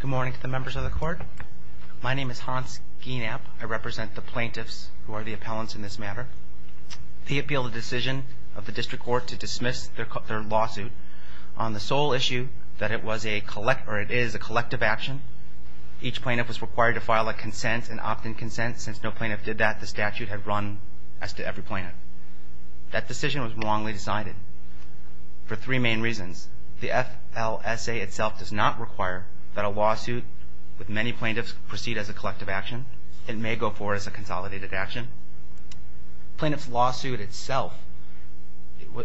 Good morning to the members of the court. My name is Hans Gienapp. I represent the plaintiffs who are the appellants in this matter. The appeal of the decision of the District Court to dismiss their lawsuit on the sole issue that it was a collective action. Each plaintiff was required to file a consent, an opt-in consent. Since no plaintiff did that, the statute had run as to every plaintiff. That decision was wrongly decided for three main reasons. The FLSA itself does not require that a lawsuit with many plaintiffs proceed as a collective action. It may go forward as a consolidated action. Plaintiff's lawsuit itself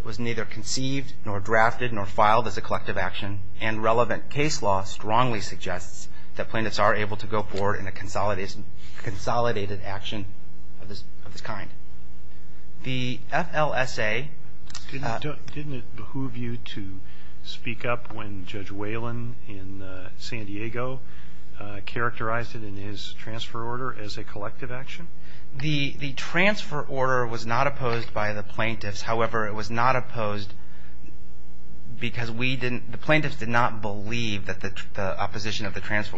was neither conceived nor drafted nor filed as a collective action and relevant case law strongly suggests that plaintiffs are able to go forward in a consolidated action of this kind. The FLSA… Didn't it behoove you to speak up when Judge Whelan in San Diego characterized it in his transfer order as a collective action? The transfer order was not opposed by the plaintiffs. However, it was not opposed because the plaintiffs did not believe that the opposition of the case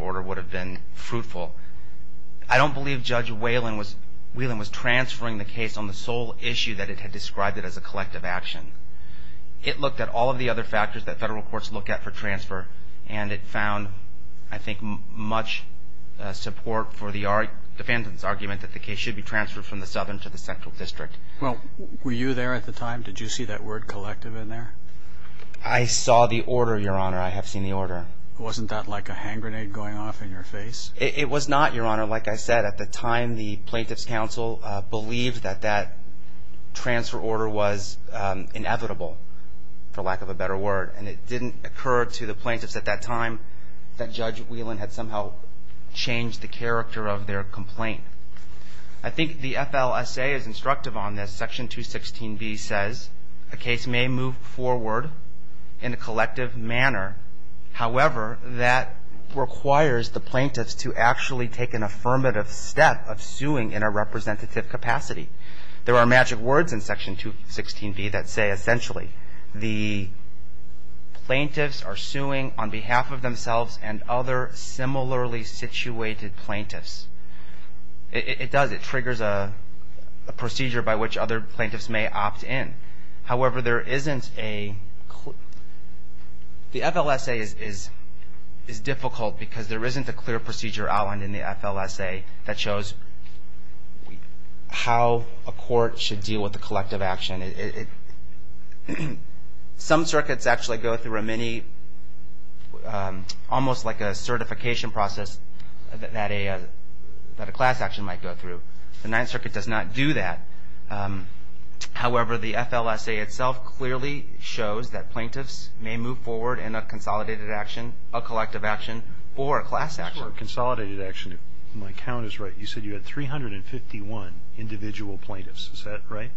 on the sole issue that it had described it as a collective action. It looked at all of the other factors that federal courts look at for transfer and it found, I think, much support for the defendant's argument that the case should be transferred from the Southern to the Central District. Well, were you there at the time? Did you see that word collective in there? I saw the order, Your Honor. I have seen the order. Wasn't that like a hand grenade going off in your face? It was not, Your Honor. Like I said, at the time the Plaintiffs' Council believed that that transfer order was inevitable, for lack of a better word, and it didn't occur to the plaintiffs at that time that Judge Whelan had somehow changed the character of their complaint. I think the FLSA is instructive on this. Section 216B says a case may move forward in a collective manner. However, that requires the plaintiffs to actually take an affirmative step of suing in a representative capacity. There are magic words in Section 216B that say essentially the plaintiffs are suing on behalf of themselves and other similarly situated plaintiffs. It does. It triggers a procedure by which other outlined in the FLSA that shows how a court should deal with a collective action. Some circuits actually go through a mini, almost like a certification process that a class action might go through. The Ninth Circuit does not do that. However, the FLSA itself clearly shows that my count is right. You said you had 351 individual plaintiffs. Is that right?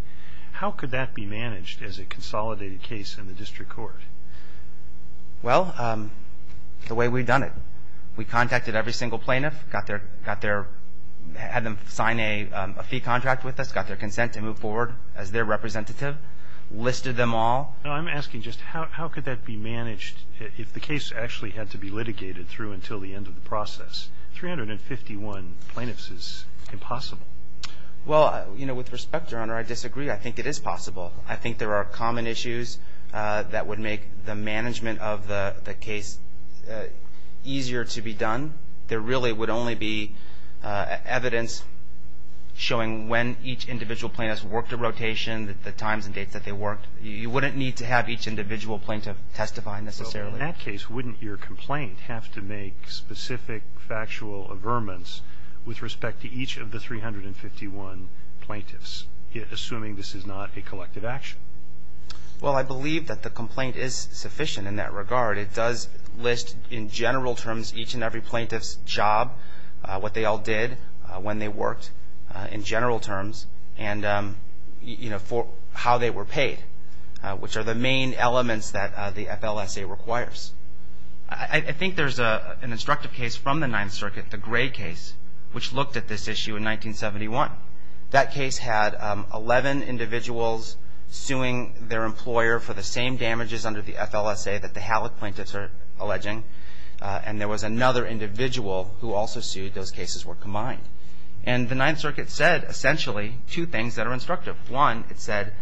How could that be managed as a consolidated case in the district court? Well, the way we've done it. We contacted every single plaintiff, had them sign a fee contract with us, got their consent to move forward as their representative, listed them all. I'm asking just how could that be managed if the case actually had to be litigated through until the end of the process? 351 plaintiffs is impossible. Well, you know, with respect, Your Honor, I disagree. I think it is possible. I think there are common issues that would make the management of the case easier to be done. There really would only be evidence showing when each individual plaintiff worked a rotation, the times and dates that they worked. You wouldn't need to have each individual plaintiff testify necessarily. In that case, wouldn't your complaint have to make specific factual averments with respect to each of the 351 plaintiffs, assuming this is not a collective action? Well, I believe that the complaint is sufficient in that regard. It does list in general terms each and every plaintiff's job, what they all did, when they worked in general terms, and, you know, for how they were paid, which are the main elements that the FLSA requires. I think there's an instructive case from the Ninth Circuit, the Gray case, which looked at this issue in 1971. That case had 11 individuals suing their employer for the same damages under the FLSA that the Halleck plaintiffs are alleging, and there was another individual who also sued. Those cases were combined. And the Ninth Circuit said, essentially, two things that are instructive. One, it said,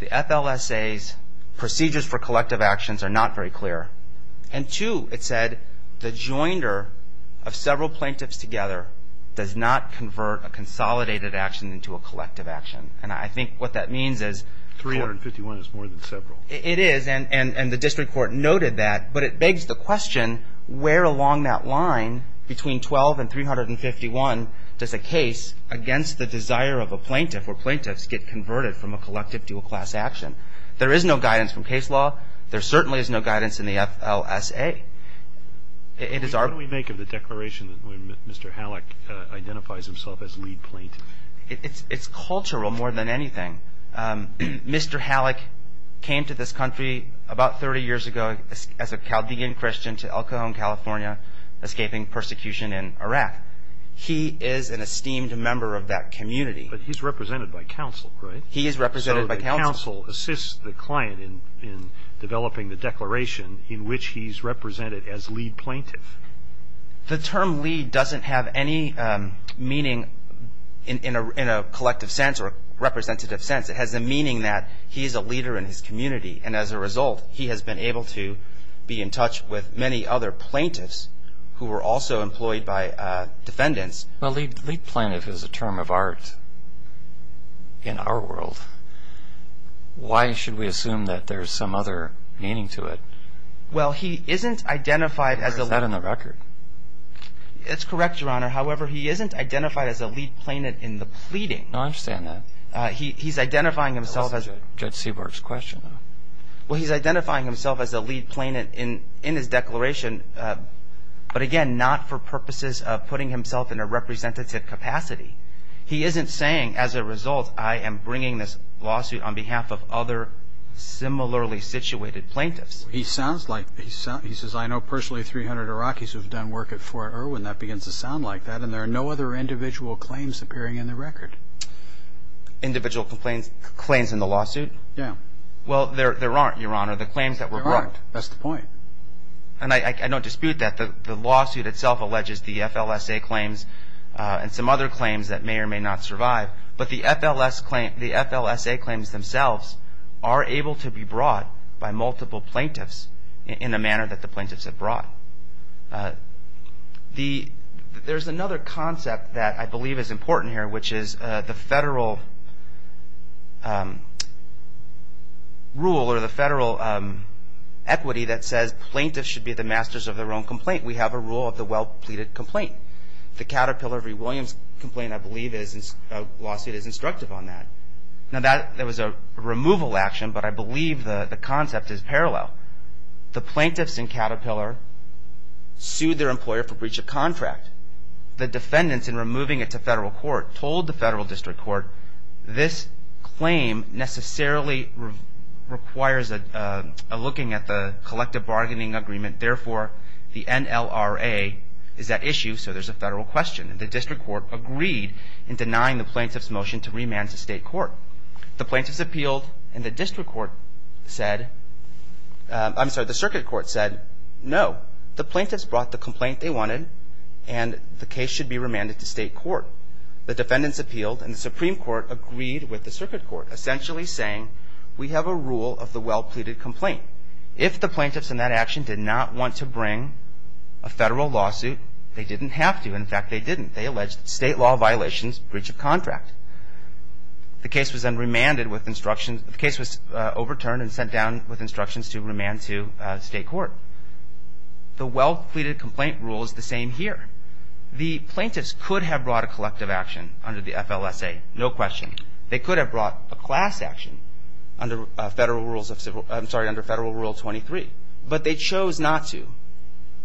the FLSA's procedures for collective actions are not very clear. And two, it said, the joinder of several plaintiffs together does not convert a consolidated action into a collective action. And I think what that means is 351 is more than several. It is, and the district court noted that, but it begs the question, where along that line between 12 and 351 does a plaintiff's get converted from a collective dual class action? There is no guidance from case law. There certainly is no guidance in the FLSA. It is our... What do we make of the declaration that Mr. Halleck identifies himself as lead plaintiff? It's cultural more than anything. Mr. Halleck came to this country about 30 years ago as a Chaldean Christian to El Cajon, California, escaping persecution in Iraq. He is an esteemed member of that community. But he's represented by counsel, right? He is represented by counsel. So the counsel assists the client in developing the declaration in which he's represented as lead plaintiff. The term lead doesn't have any meaning in a collective sense or a representative sense. It has the meaning that he is a leader in his community. And as a result, he has been able to be in touch with many other plaintiffs who were also employed by defendants. Well, lead plaintiff is a term of art in our world. Why should we assume that there's some other meaning to it? Well, he isn't identified as a... Is that in the record? It's correct, Your Honor. However, he isn't identified as a lead plaintiff in the pleading. No, I understand that. He's identifying himself as... That wasn't Judge Seaborg's question, though. Well, he's identifying himself as a lead plaintiff in his declaration, but again, not for purposes of putting himself in a representative capacity. He isn't saying, as a result, I am bringing this lawsuit on behalf of other similarly situated plaintiffs. He sounds like... He says, I know personally 300 Iraqis who have done work at Fort Irwin. That begins to sound like that. And there are no other individual claims appearing in the record. Individual claims in the lawsuit? Yeah. Well, there aren't, Your Honor, the claims that were brought. There aren't. That's the point. And I don't dispute that. The lawsuit itself alleges the FLSA claims and some other claims that may or may not survive. But the FLSA claims themselves are able to be brought by multiple plaintiffs in the manner that the plaintiffs have brought. There's another concept that I believe is important here, which is the federal rule or the federal equity that says plaintiffs should be the masters of their own complaint. We have a rule of the well-pleaded complaint. The Caterpillar v. Williams complaint, I believe, is... A lawsuit is instructive on that. Now, that was a removal action, but I believe the concept is parallel. The plaintiffs in Caterpillar sued their employer for breach of contract. The defendants in removing it to federal court told the federal district court, this claim necessarily requires a looking at the collective bargaining agreement. Therefore, the NLRA is at issue, so there's a federal question. The district court agreed in denying the plaintiff's motion to remand to state court. The plaintiffs appealed, and the district court said... I'm sorry, the circuit court said no. The plaintiffs brought the complaint they wanted, and the case should be remanded to state court. The defendants appealed, and the Supreme Court agreed with the circuit court, essentially saying we have a rule of the well-pleaded complaint. If the plaintiffs in that action did not want to bring a federal lawsuit, they didn't have to. In fact, they didn't. They alleged state law violations, breach of contract. The case was then remanded with instructions. The case was overturned and sent down with instructions to remand to state court. The well-pleaded complaint rule is the same here. The plaintiffs could have brought a collective action under the FLSA, no question. They could have brought a class action under Federal Rule 23, but they chose not to.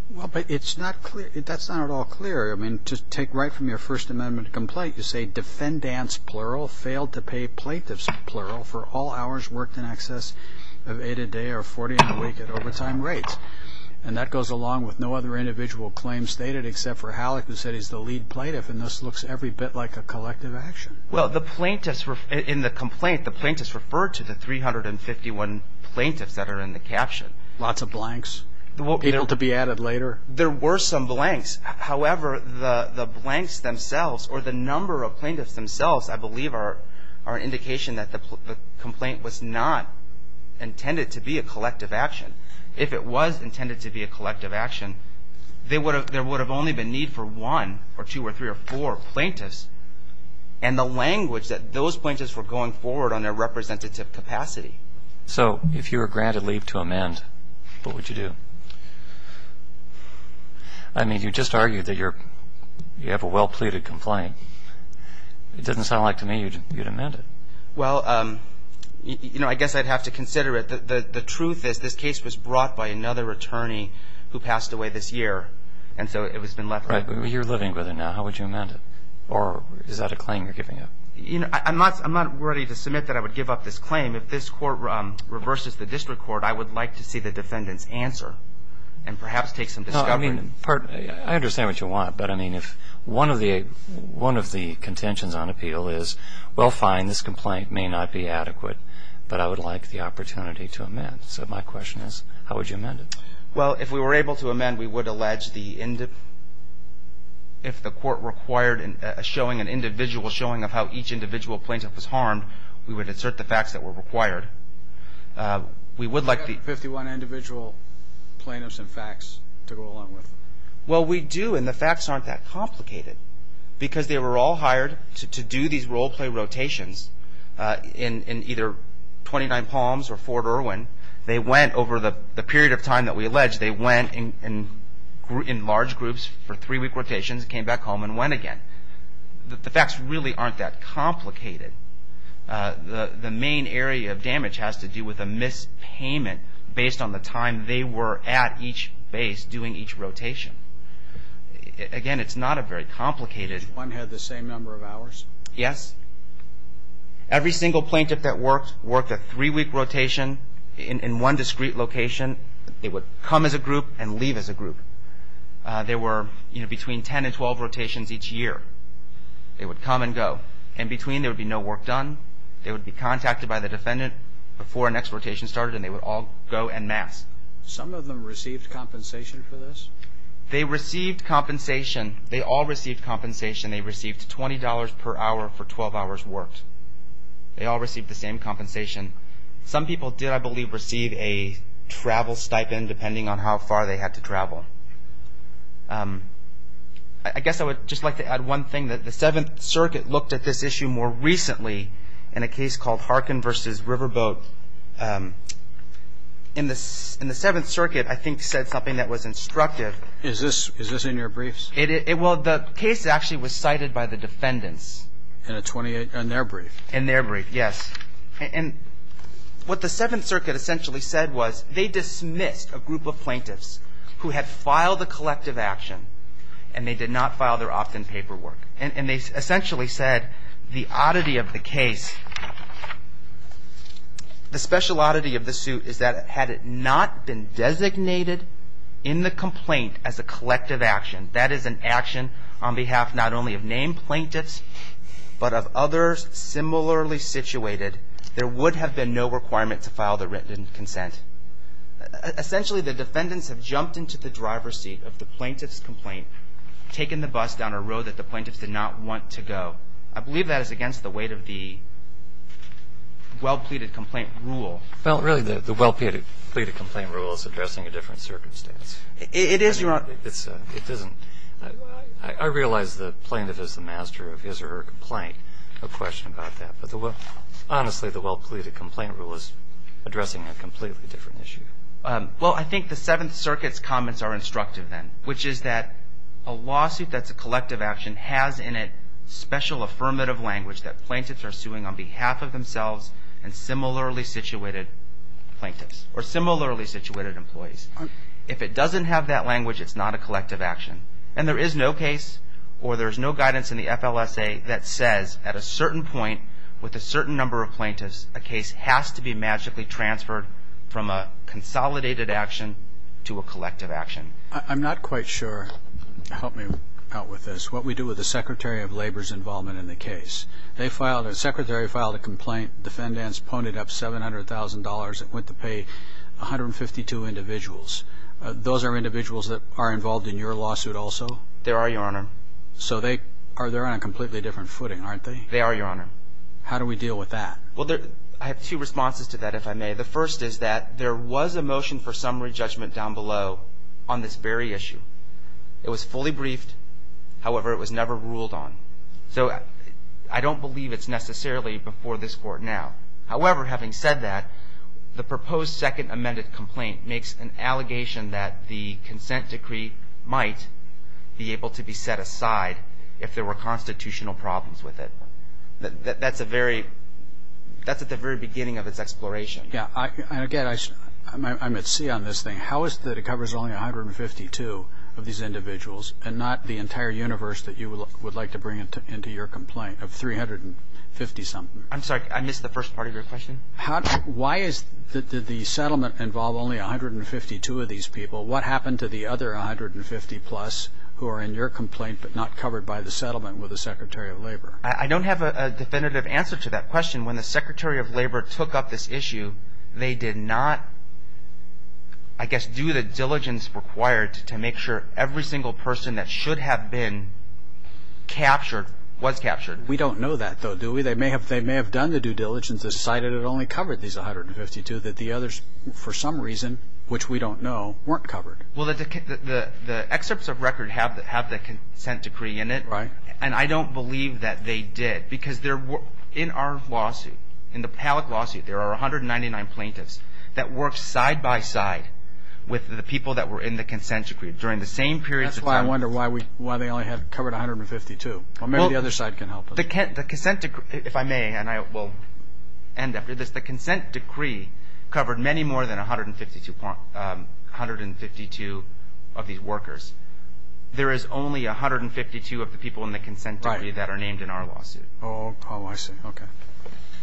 Well, but it's not clear. That's not at all clear. I mean, to take right from your First Amendment complaint, you say defendants, plural, failed to pay plaintiffs, plural, for all hours worked in excess of 8 a day or 40 in a week at overtime rates. And that goes along with no other individual claims stated except for Halleck, who said he's the lead plaintiff, and this looks every bit like a collective action. Well, in the complaint, the plaintiffs referred to the 351 plaintiffs that are in the caption. Lots of blanks, people to be added later? There were some blanks. However, the blanks themselves or the number of plaintiffs themselves, I believe, are an indication that the complaint was not intended to be a collective action. If it was intended to be a collective action, there would have only been need for one or two or three or four plaintiffs, and the language that those plaintiffs were going forward on their representative capacity. So if you were granted leave to amend, what would you do? I mean, you just argued that you have a well-pleaded complaint. It doesn't sound like to me you'd amend it. Well, you know, I guess I'd have to consider it. The truth is this case was brought by another attorney who passed away this year, and so it has been left. You're living with it now. How would you amend it? Or is that a claim you're giving up? You know, I'm not worthy to submit that I would give up this claim. If this court reverses the district court, I would like to see the defendant's answer and perhaps take some discovery. No, I mean, I understand what you want. But, I mean, if one of the contentions on appeal is, well, fine, this complaint may not be adequate, but I would like the opportunity to amend. So my question is, how would you amend it? Well, if we were able to amend, we would allege if the court required a showing, an individual showing of how each individual plaintiff was harmed, we would insert the facts that were required. Do you have 51 individual plaintiffs and facts to go along with it? Well, we do, and the facts aren't that complicated, because they were all hired to do these role-play rotations in either 29 Palms or Fort Irwin. They went over the period of time that we alleged. They went in large groups for three-week rotations, came back home, and went again. The facts really aren't that complicated. The main area of damage has to do with a mispayment based on the time they were at each base doing each rotation. Again, it's not a very complicated. Did one have the same number of hours? Yes. Every single plaintiff that worked worked a three-week rotation in one discrete location. They would come as a group and leave as a group. There were between 10 and 12 rotations each year. They would come and go. In between, there would be no work done. They would be contacted by the defendant before the next rotation started, and they would all go en masse. Some of them received compensation for this? They received compensation. They all received compensation. They received $20 per hour for 12 hours worked. They all received the same compensation. Some people did, I believe, receive a travel stipend depending on how far they had to travel. I guess I would just like to add one thing. The Seventh Circuit looked at this issue more recently in a case called Harkin v. Riverboat. In the Seventh Circuit, I think, said something that was instructive. Is this in your briefs? Well, the case actually was cited by the defendants. In their brief? In their brief, yes. And what the Seventh Circuit essentially said was they dismissed a group of plaintiffs who had filed a collective action, and they did not file their opt-in paperwork. And they essentially said the oddity of the case, the special oddity of the suit, is that had it not been designated in the complaint as a collective action, that is an action on behalf not only of named plaintiffs but of others similarly situated, there would have been no requirement to file the written consent. Essentially, the defendants have jumped into the driver's seat of the plaintiff's complaint, taken the bus down a road that the plaintiffs did not want to go. I believe that is against the weight of the well-pleaded complaint rule. Well, really, the well-pleaded complaint rule is addressing a different circumstance. It is, Your Honor. It isn't. I realize the plaintiff is the master of his or her complaint. No question about that. Honestly, the well-pleaded complaint rule is addressing a completely different issue. Well, I think the Seventh Circuit's comments are instructive then, which is that a lawsuit that's a collective action has in it special affirmative language that plaintiffs are suing on behalf of themselves and similarly situated plaintiffs or similarly situated employees. If it doesn't have that language, it's not a collective action. And there is no case or there is no guidance in the FLSA that says at a certain point with a certain number of plaintiffs, a case has to be magically transferred from a consolidated action to a collective action. I'm not quite sure. Help me out with this. What we do with the Secretary of Labor's involvement in the case, the Secretary filed a complaint. Defendants pwned it up $700,000. It went to pay 152 individuals. Those are individuals that are involved in your lawsuit also? There are, Your Honor. So they're on a completely different footing, aren't they? They are, Your Honor. How do we deal with that? I have two responses to that, if I may. The first is that there was a motion for summary judgment down below on this very issue. It was fully briefed. However, it was never ruled on. So I don't believe it's necessarily before this Court now. However, having said that, the proposed second amended complaint makes an allegation that the consent decree might be able to be set aside if there were constitutional problems with it. That's at the very beginning of its exploration. Again, I'm at sea on this thing. How is it that it covers only 152 of these individuals and not the entire universe that you would like to bring into your complaint of 350-something? I'm sorry. I missed the first part of your question. Why is it that the settlement involved only 152 of these people? What happened to the other 150-plus who are in your complaint but not covered by the settlement with the Secretary of Labor? I don't have a definitive answer to that question. When the Secretary of Labor took up this issue, they did not, I guess, do the diligence required to make sure every single person that should have been captured was captured. We don't know that, though, do we? They may have done the due diligence, decided it only covered these 152, that the others, for some reason, which we don't know, weren't covered. The excerpts of record have the consent decree in it, and I don't believe that they did because in our lawsuit, in the Palak lawsuit, there are 199 plaintiffs that worked side-by-side with the people that were in the consent decree during the same period of time. That's why I wonder why they only covered 152. Maybe the other side can help us. The consent decree, if I may, and I will end after this, the consent decree covered many more than 152 of these workers. There is only 152 of the people in the consent decree that are named in our lawsuit. Oh, I see. Okay.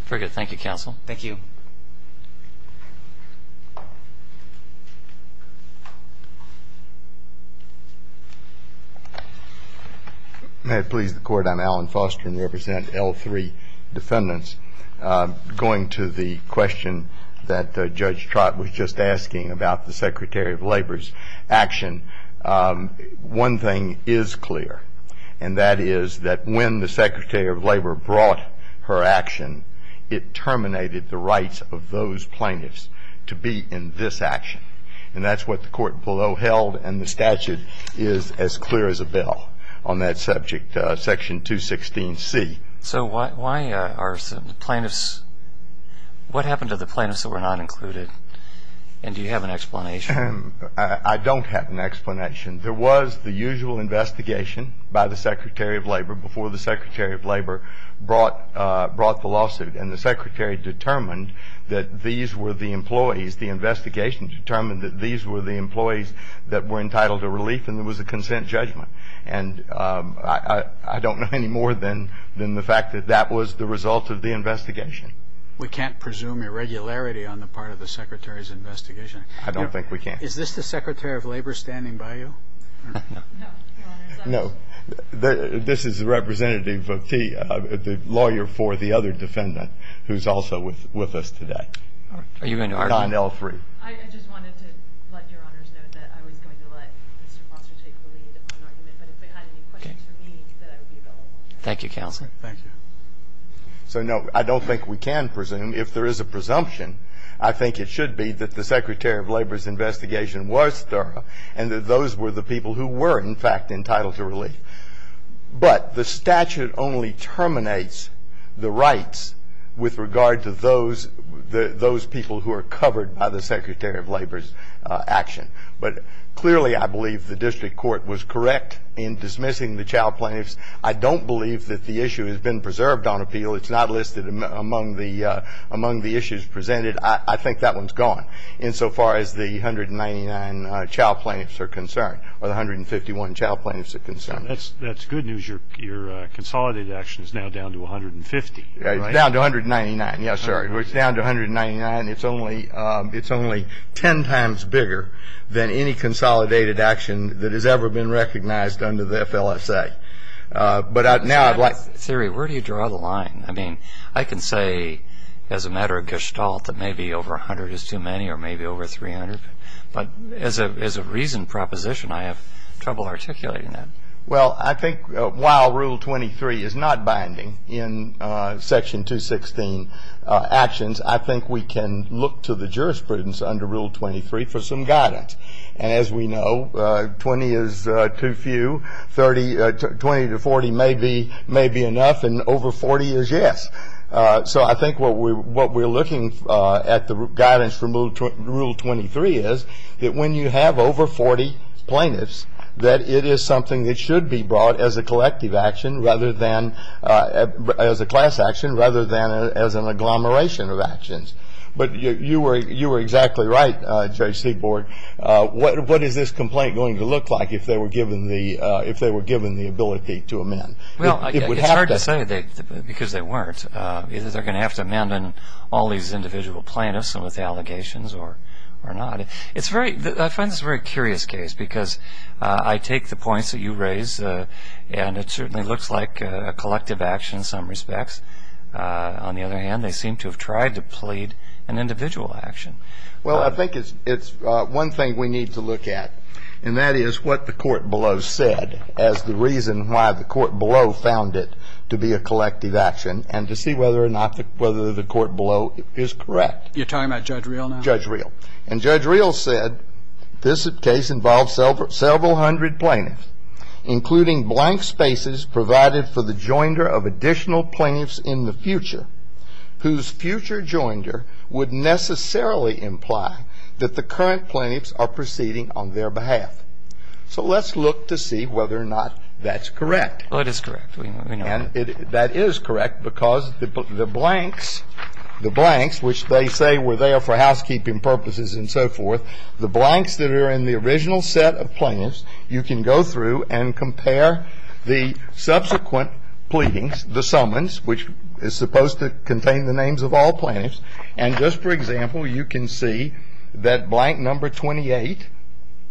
Very good. Thank you, Counsel. Thank you. May it please the Court, I'm Alan Foster, and I represent L3 defendants. Going to the question that Judge Trott was just asking about the Secretary of Labor's action, one thing is clear, and that is that when the Secretary of Labor brought her action, it terminated the rights of those who were in the consent decree. to be in this action, and that's what the Court below held, and the statute is as clear as a bell on that subject, Section 216C. So why are plaintiffs – what happened to the plaintiffs that were not included, and do you have an explanation? I don't have an explanation. There was the usual investigation by the Secretary of Labor before the Secretary of Labor brought the lawsuit, and the Secretary determined that these were the employees. The investigation determined that these were the employees that were entitled to relief, and there was a consent judgment. And I don't know any more than the fact that that was the result of the investigation. We can't presume irregularity on the part of the Secretary's investigation. I don't think we can. Is this the Secretary of Labor standing by you? No, Your Honor. No, this is the representative of the lawyer for the other defendant who's also with us today. Are you going to argue? 9L3. I just wanted to let Your Honors know that I was going to let Mr. Foster take the lead on the argument, but if they had any questions for me, then I would be available. Thank you, Counsel. Thank you. So, no, I don't think we can presume. If there is a presumption, I think it should be that the Secretary of Labor's investigation was thorough and that those were the people who were, in fact, entitled to relief. But the statute only terminates the rights with regard to those people who are covered by the Secretary of Labor's action. But, clearly, I believe the district court was correct in dismissing the child plaintiffs. I don't believe that the issue has been preserved on appeal. It's not listed among the issues presented. I think that one's gone insofar as the 199 child plaintiffs are concerned or the 151 child plaintiffs are concerned. That's good news. Your consolidated action is now down to 150, right? It's down to 199. Yes, sir. It's down to 199. It's only 10 times bigger than any consolidated action that has ever been recognized under the FLSA. But now I'd like to see. Siri, where do you draw the line? I mean, I can say as a matter of gestalt that maybe over 100 is too many or maybe over 300. But as a reasoned proposition, I have trouble articulating that. Well, I think while Rule 23 is not binding in Section 216 actions, I think we can look to the jurisprudence under Rule 23 for some guidance. And as we know, 20 is too few, 20 to 40 may be enough, and over 40 is yes. So I think what we're looking at the guidance from Rule 23 is that when you have over 40 plaintiffs, that it is something that should be brought as a collective action rather than as a class action, rather than as an agglomeration of actions. But you were exactly right, Judge Seaborg. What is this complaint going to look like if they were given the ability to amend? Well, it's hard to say because they weren't. Either they're going to have to amend on all these individual plaintiffs and with allegations or not. I find this a very curious case because I take the points that you raise, and it certainly looks like a collective action in some respects. On the other hand, they seem to have tried to plead an individual action. Well, I think it's one thing we need to look at, and that is what the court below said as the reason why the court below found it to be a collective action and to see whether or not the court below is correct. You're talking about Judge Reel now? Judge Reel. And Judge Reel said this case involves several hundred plaintiffs, including blank spaces provided for the joinder of additional plaintiffs in the future, whose future joinder would necessarily imply that the current plaintiffs are proceeding on their behalf. So let's look to see whether or not that's correct. Well, it is correct. We know that. And that is correct because the blanks, the blanks, which they say were there for housekeeping purposes and so forth, the blanks that are in the original set of plaintiffs, you can go through and compare the subsequent pleadings, the summons, which is supposed to contain the names of all plaintiffs. And just for example, you can see that blank number 28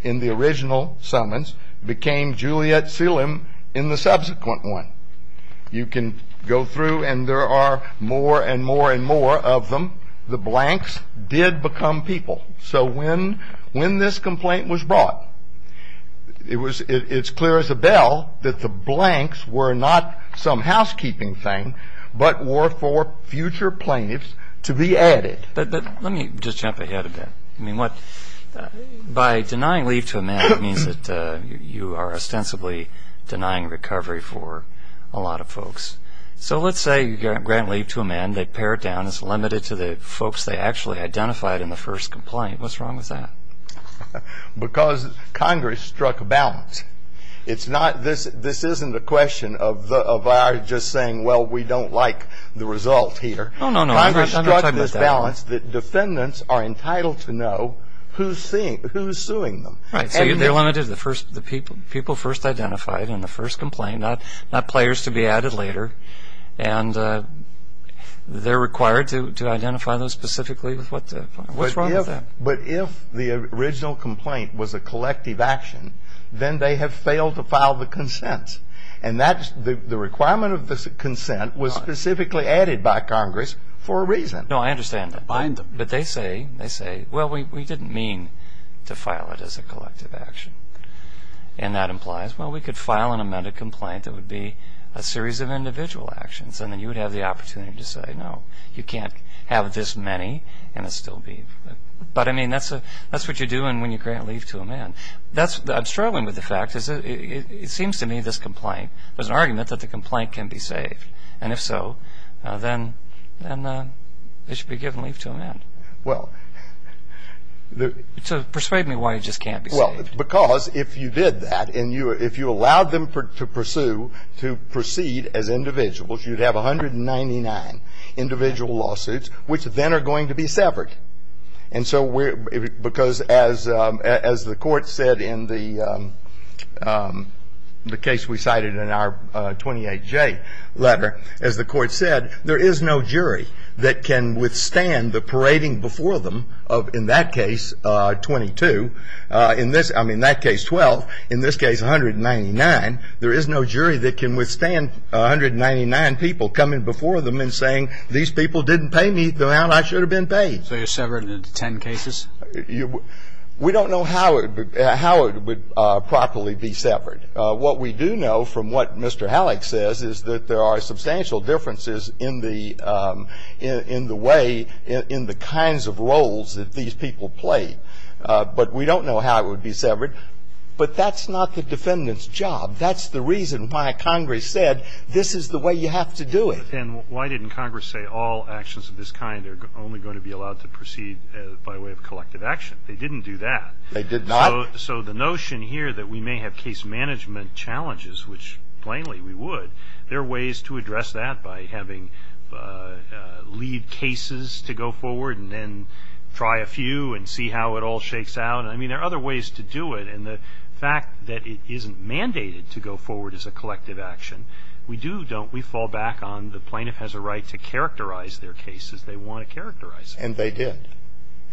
in the original summons became Juliet Seelim in the subsequent one. You can go through, and there are more and more and more of them. The blanks did become people. So when this complaint was brought, it's clear as a bell that the blanks were not some housekeeping thing, but were for future plaintiffs to be added. But let me just jump ahead a bit. I mean, what by denying leave to a man means that you are ostensibly denying recovery for a lot of folks. So let's say you grant leave to a man. And they pare it down as limited to the folks they actually identified in the first complaint. What's wrong with that? Because Congress struck a balance. This isn't a question of ours just saying, well, we don't like the result here. No, no, no. Congress struck this balance that defendants are entitled to know who's suing them. Right. So they're limited to the people first identified in the first complaint, not players to be added later. And they're required to identify those specifically. What's wrong with that? But if the original complaint was a collective action, then they have failed to file the consent. And the requirement of the consent was specifically added by Congress for a reason. No, I understand that. But they say, well, we didn't mean to file it as a collective action. And that implies, well, we could file an amended complaint that would be a series of individual actions. And then you would have the opportunity to say, no, you can't have this many and it still be. But, I mean, that's what you do when you grant leave to a man. I'm struggling with the fact is it seems to me this complaint, there's an argument that the complaint can be saved. And if so, then it should be given leave to a man. Well. Persuade me why it just can't be saved. Because if you did that and if you allowed them to pursue, to proceed as individuals, you'd have 199 individual lawsuits which then are going to be severed. And so because as the court said in the case we cited in our 28J letter, as the court said, there is no jury that can withstand the parading before them of, in that case, 22. In this, I mean, that case, 12. In this case, 199. There is no jury that can withstand 199 people coming before them and saying, these people didn't pay me the amount I should have been paid. So you're severed in 10 cases? We don't know how it would properly be severed. What we do know from what Mr. Halleck says is that there are substantial differences in the way, in the kinds of roles that these people play. But we don't know how it would be severed. But that's not the defendant's job. That's the reason why Congress said this is the way you have to do it. And why didn't Congress say all actions of this kind are only going to be allowed to proceed by way of collective action? They didn't do that. They did not. So the notion here that we may have case management challenges, which plainly we would, there are ways to address that by having lead cases to go forward and then try a few and see how it all shakes out. I mean, there are other ways to do it. And the fact that it isn't mandated to go forward as a collective action, we do, don't we, fall back on the plaintiff has a right to characterize their case as they want to characterize it. And they did.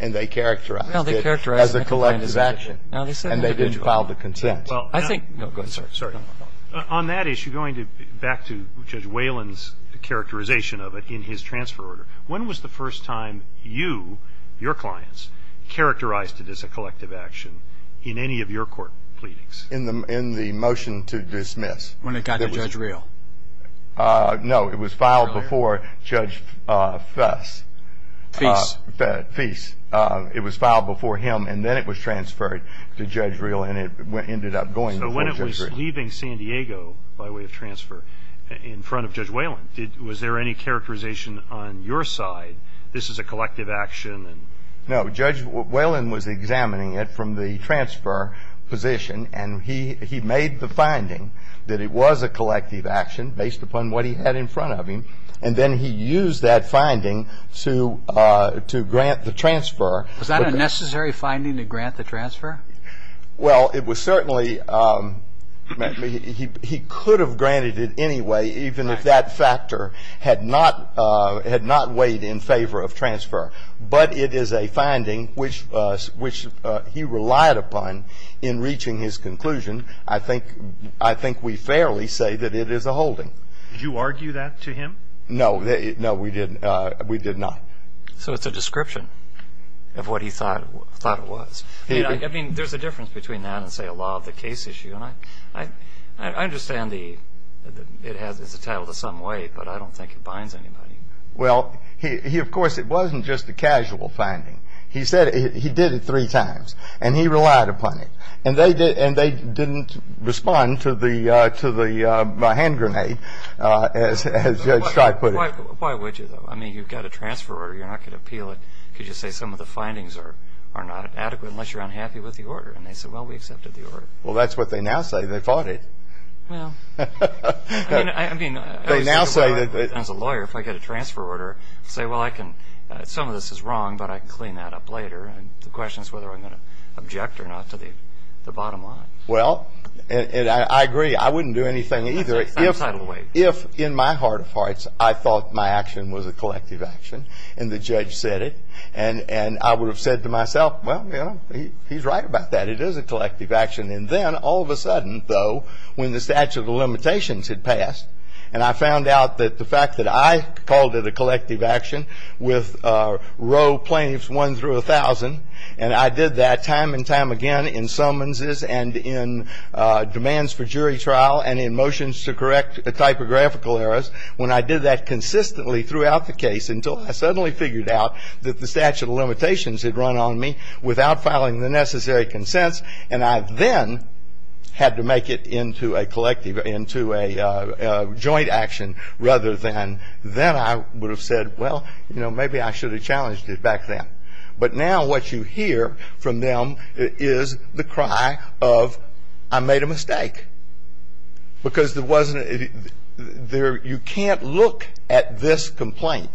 And they characterized it as a collective action. And they did file the consent. Well, I think go ahead, sir. Sorry. On that issue, going back to Judge Whalen's characterization of it in his transfer order, when was the first time you, your clients, characterized it as a collective action in any of your court pleadings? In the motion to dismiss. When it got to Judge Rehl. It was filed before Judge Fess. Feas. Feas. It was filed before him. And then it was transferred to Judge Rehl. And it ended up going before Judge Rehl. So when it was leaving San Diego by way of transfer in front of Judge Whalen, was there any characterization on your side, this is a collective action? No. Judge Whalen was examining it from the transfer position. And he made the finding that it was a collective action based upon what he had in front of him. And then he used that finding to grant the transfer. Was that a necessary finding to grant the transfer? Well, it was certainly. He could have granted it anyway even if that factor had not weighed in favor of transfer. But it is a finding which he relied upon in reaching his conclusion. I think we fairly say that it is a holding. Did you argue that to him? No. No, we did not. So it's a description of what he thought it was. I mean, there's a difference between that and, say, a law of the case issue. And I understand it's entitled to some weight, but I don't think it binds anybody. Well, he, of course, it wasn't just a casual finding. He said he did it three times. And he relied upon it. And they didn't respond to the hand grenade, as Judge Streit put it. Why would you, though? I mean, you've got a transfer order. You're not going to appeal it. Could you say some of the findings are not adequate unless you're unhappy with the order? And they said, well, we accepted the order. Well, that's what they now say. They fought it. Well, I mean, as a lawyer, if I get a transfer order, I say, well, some of this is wrong, but I can clean that up later. And the question is whether I'm going to object or not to the bottom line. Well, I agree. I wouldn't do anything either if, in my heart of hearts, I thought my action was a collective action, and the judge said it, and I would have said to myself, well, you know, he's right about that. It is a collective action. And then, all of a sudden, though, when the statute of limitations had passed, and I found out that the fact that I called it a collective action with row plaintiffs one through a thousand, and I did that time and time again in summonses and in demands for jury trial and in motions to correct typographical errors, when I did that consistently throughout the case until I suddenly figured out that the statute of limitations had run on me without filing the necessary consents, and I then had to make it into a collective, into a joint action rather than then I would have said, well, you know, maybe I should have challenged it back then. But now what you hear from them is the cry of, I made a mistake. Because there wasn't a you can't look at this complaint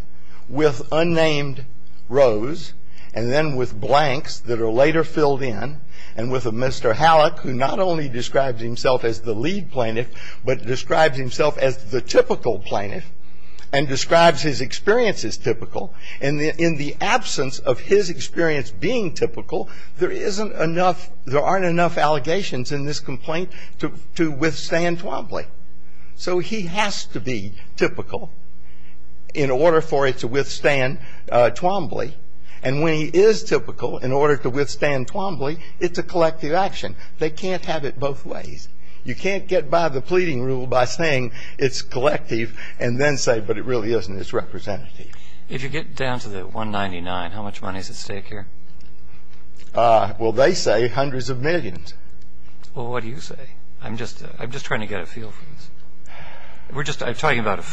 with unnamed rows and then with blanks that are later filled in and with a Mr. Hallock who not only describes himself as the lead plaintiff but describes himself as the typical plaintiff and describes his experience as typical. And in the absence of his experience being typical, there isn't enough, there aren't enough allegations in this complaint to withstand Twombly. So he has to be typical in order for it to withstand Twombly. And when he is typical in order to withstand Twombly, it's a collective action. They can't have it both ways. You can't get by the pleading rule by saying it's collective and then say, but it really isn't. It's representative. If you get down to the 199, how much money is at stake here? Well, they say hundreds of millions. Well, what do you say? I'm just trying to get a feel for this. We're just talking about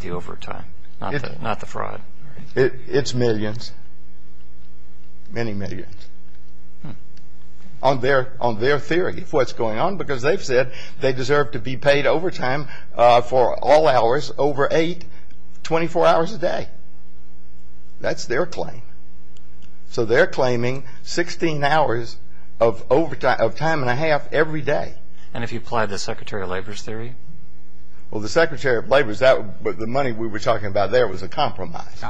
the overtime, not the fraud. It's millions, many millions on their theory of what's going on because they've said they deserve to be paid overtime for all hours over eight, 24 hours a day. That's their claim. So they're claiming 16 hours of overtime, of time and a half every day. And if you apply the Secretary of Labor's theory? Well, the Secretary of Labor's, the money we were talking about there was a compromise.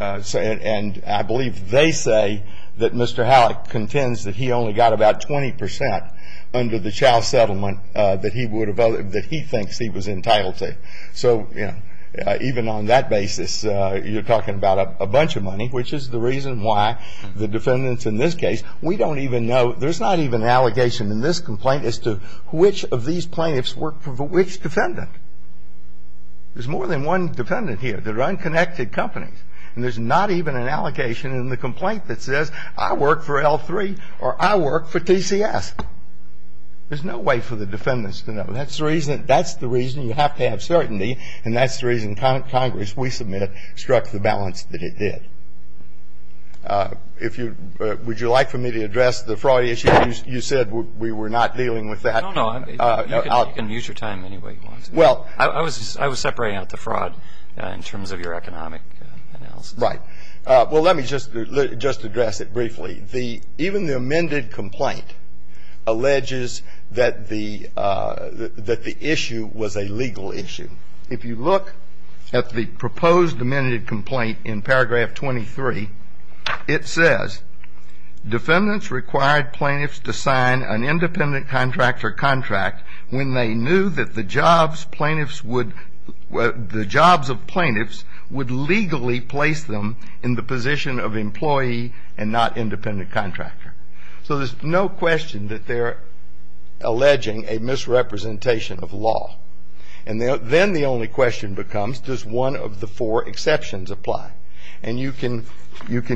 And I believe they say that Mr. Halleck contends that he only got about 20 percent under the Chow settlement that he thinks he was entitled to. So, you know, even on that basis, you're talking about a bunch of money, which is the reason why the defendants in this case, we don't even know. There's not even an allegation in this complaint as to which of these plaintiffs work for which defendant. There's more than one defendant here. They're unconnected companies. And there's not even an allegation in the complaint that says I work for L3 or I work for TCS. There's no way for the defendants to know. That's the reason you have to have certainty. And that's the reason Congress, we submit, struck the balance that it did. If you would you like for me to address the fraud issue? You said we were not dealing with that. No, no. You can use your time anyway you want. Well. I was separating out the fraud in terms of your economic analysis. Right. Well, let me just address it briefly. Even the amended complaint alleges that the issue was a legal issue. If you look at the proposed amended complaint in paragraph 23, it says defendants required plaintiffs to sign an independent contractor contract when they knew that the jobs plaintiffs would, the jobs of plaintiffs would legally place them in the position of employee and not independent contractor. So there's no question that they're alleging a misrepresentation of law. And then the only question becomes, does one of the four exceptions apply? And you can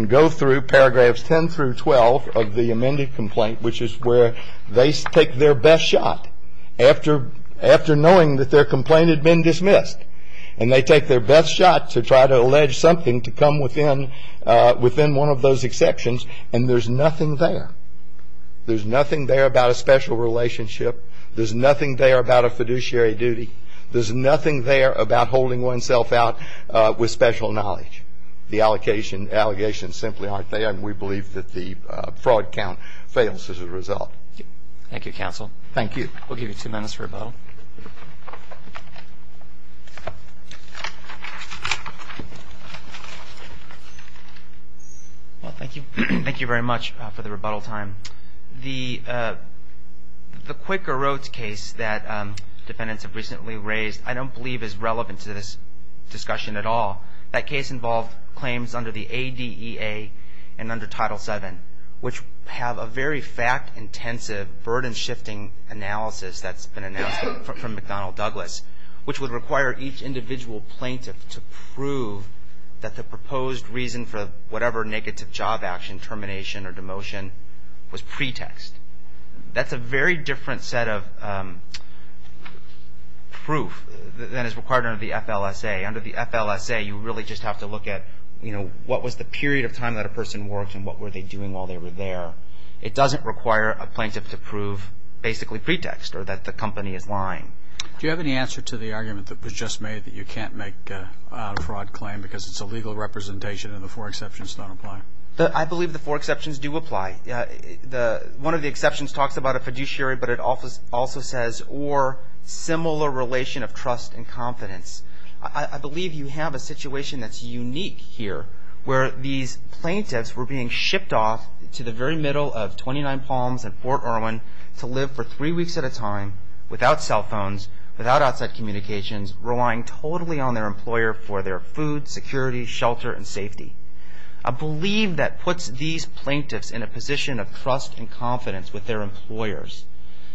go through paragraphs 10 through 12 of the amended complaint, which is where they take their best shot after knowing that their complaint had been dismissed. And they take their best shot to try to allege something to come within one of those exceptions, and there's nothing there. There's nothing there about a special relationship. There's nothing there about a fiduciary duty. There's nothing there about holding oneself out with special knowledge. The allegations simply aren't there, and we believe that the fraud count fails as a result. Thank you, counsel. Thank you. We'll give you two minutes for rebuttal. Well, thank you. Thank you very much for the rebuttal time. The Quicker Roads case that defendants have recently raised I don't believe is relevant to this discussion at all. That case involved claims under the ADEA and under Title VII, which have a very fact-intensive, burden-shifting analysis that's been announced from McDonnell Douglas, which would require each individual plaintiff to prove that the proposed reason for whatever negative job action, termination, or demotion was pretext. That's a very different set of proof than is required under the FLSA. Under the FLSA, you really just have to look at what was the period of time that a person worked and what were they doing while they were there. It doesn't require a plaintiff to prove basically pretext or that the company is lying. Do you have any answer to the argument that was just made that you can't make a fraud claim because it's a legal representation and the four exceptions don't apply? I believe the four exceptions do apply. One of the exceptions talks about a fiduciary, but it also says or similar relation of trust and confidence. I believe you have a situation that's unique here, where these plaintiffs were being shipped off to the very middle of 29 Palms and Fort Irwin to live for three weeks at a time without cell phones, without outside communications, relying totally on their employer for their food, security, shelter, and safety. I believe that puts these plaintiffs in a position of trust and confidence with their employers.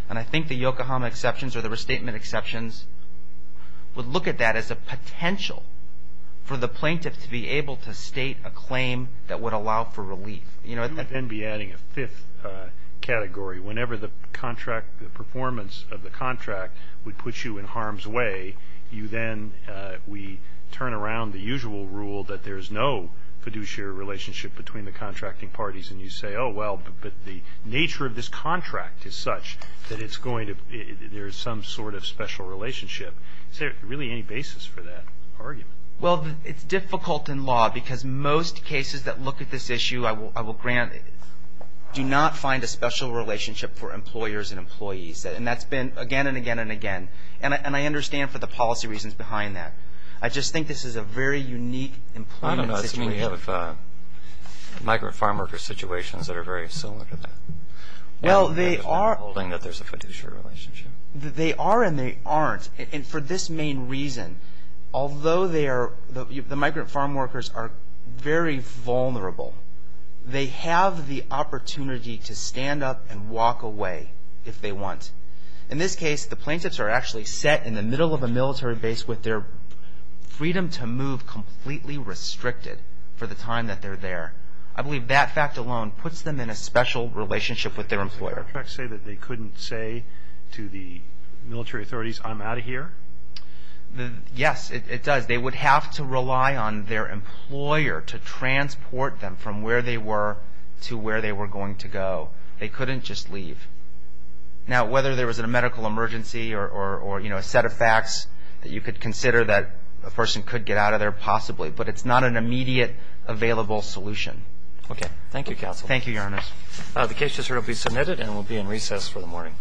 I think the Yokohama exceptions or the restatement exceptions would look at that as a potential for the plaintiff to be able to state a claim that would allow for relief. You might then be adding a fifth category. Whenever the performance of the contract would put you in harm's way, we turn around the usual rule that there's no fiduciary relationship between the contracting parties and you say, oh, well, but the nature of this contract is such that it's going to be that there's some sort of special relationship. Is there really any basis for that argument? Well, it's difficult in law because most cases that look at this issue I will grant do not find a special relationship for employers and employees. And that's been again and again and again. And I understand for the policy reasons behind that. I just think this is a very unique employment situation. We have migrant farm worker situations that are very similar to that. Well, they are. Holding that there's a fiduciary relationship. They are and they aren't. And for this main reason, although the migrant farm workers are very vulnerable, they have the opportunity to stand up and walk away if they want. In this case, the plaintiffs are actually set in the middle of a military base with their freedom to move completely restricted for the time that they're there. I believe that fact alone puts them in a special relationship with their employer. Does the contract say that they couldn't say to the military authorities, I'm out of here? Yes, it does. They would have to rely on their employer to transport them from where they were to where they were going to go. They couldn't just leave. Now, whether there was a medical emergency or a set of facts that you could consider that a person could get out of there possibly, but it's not an immediate available solution. Okay. Thank you, counsel. Thank you, Your Honor. The case will be submitted and will be in recess for the morning. All rise for recess.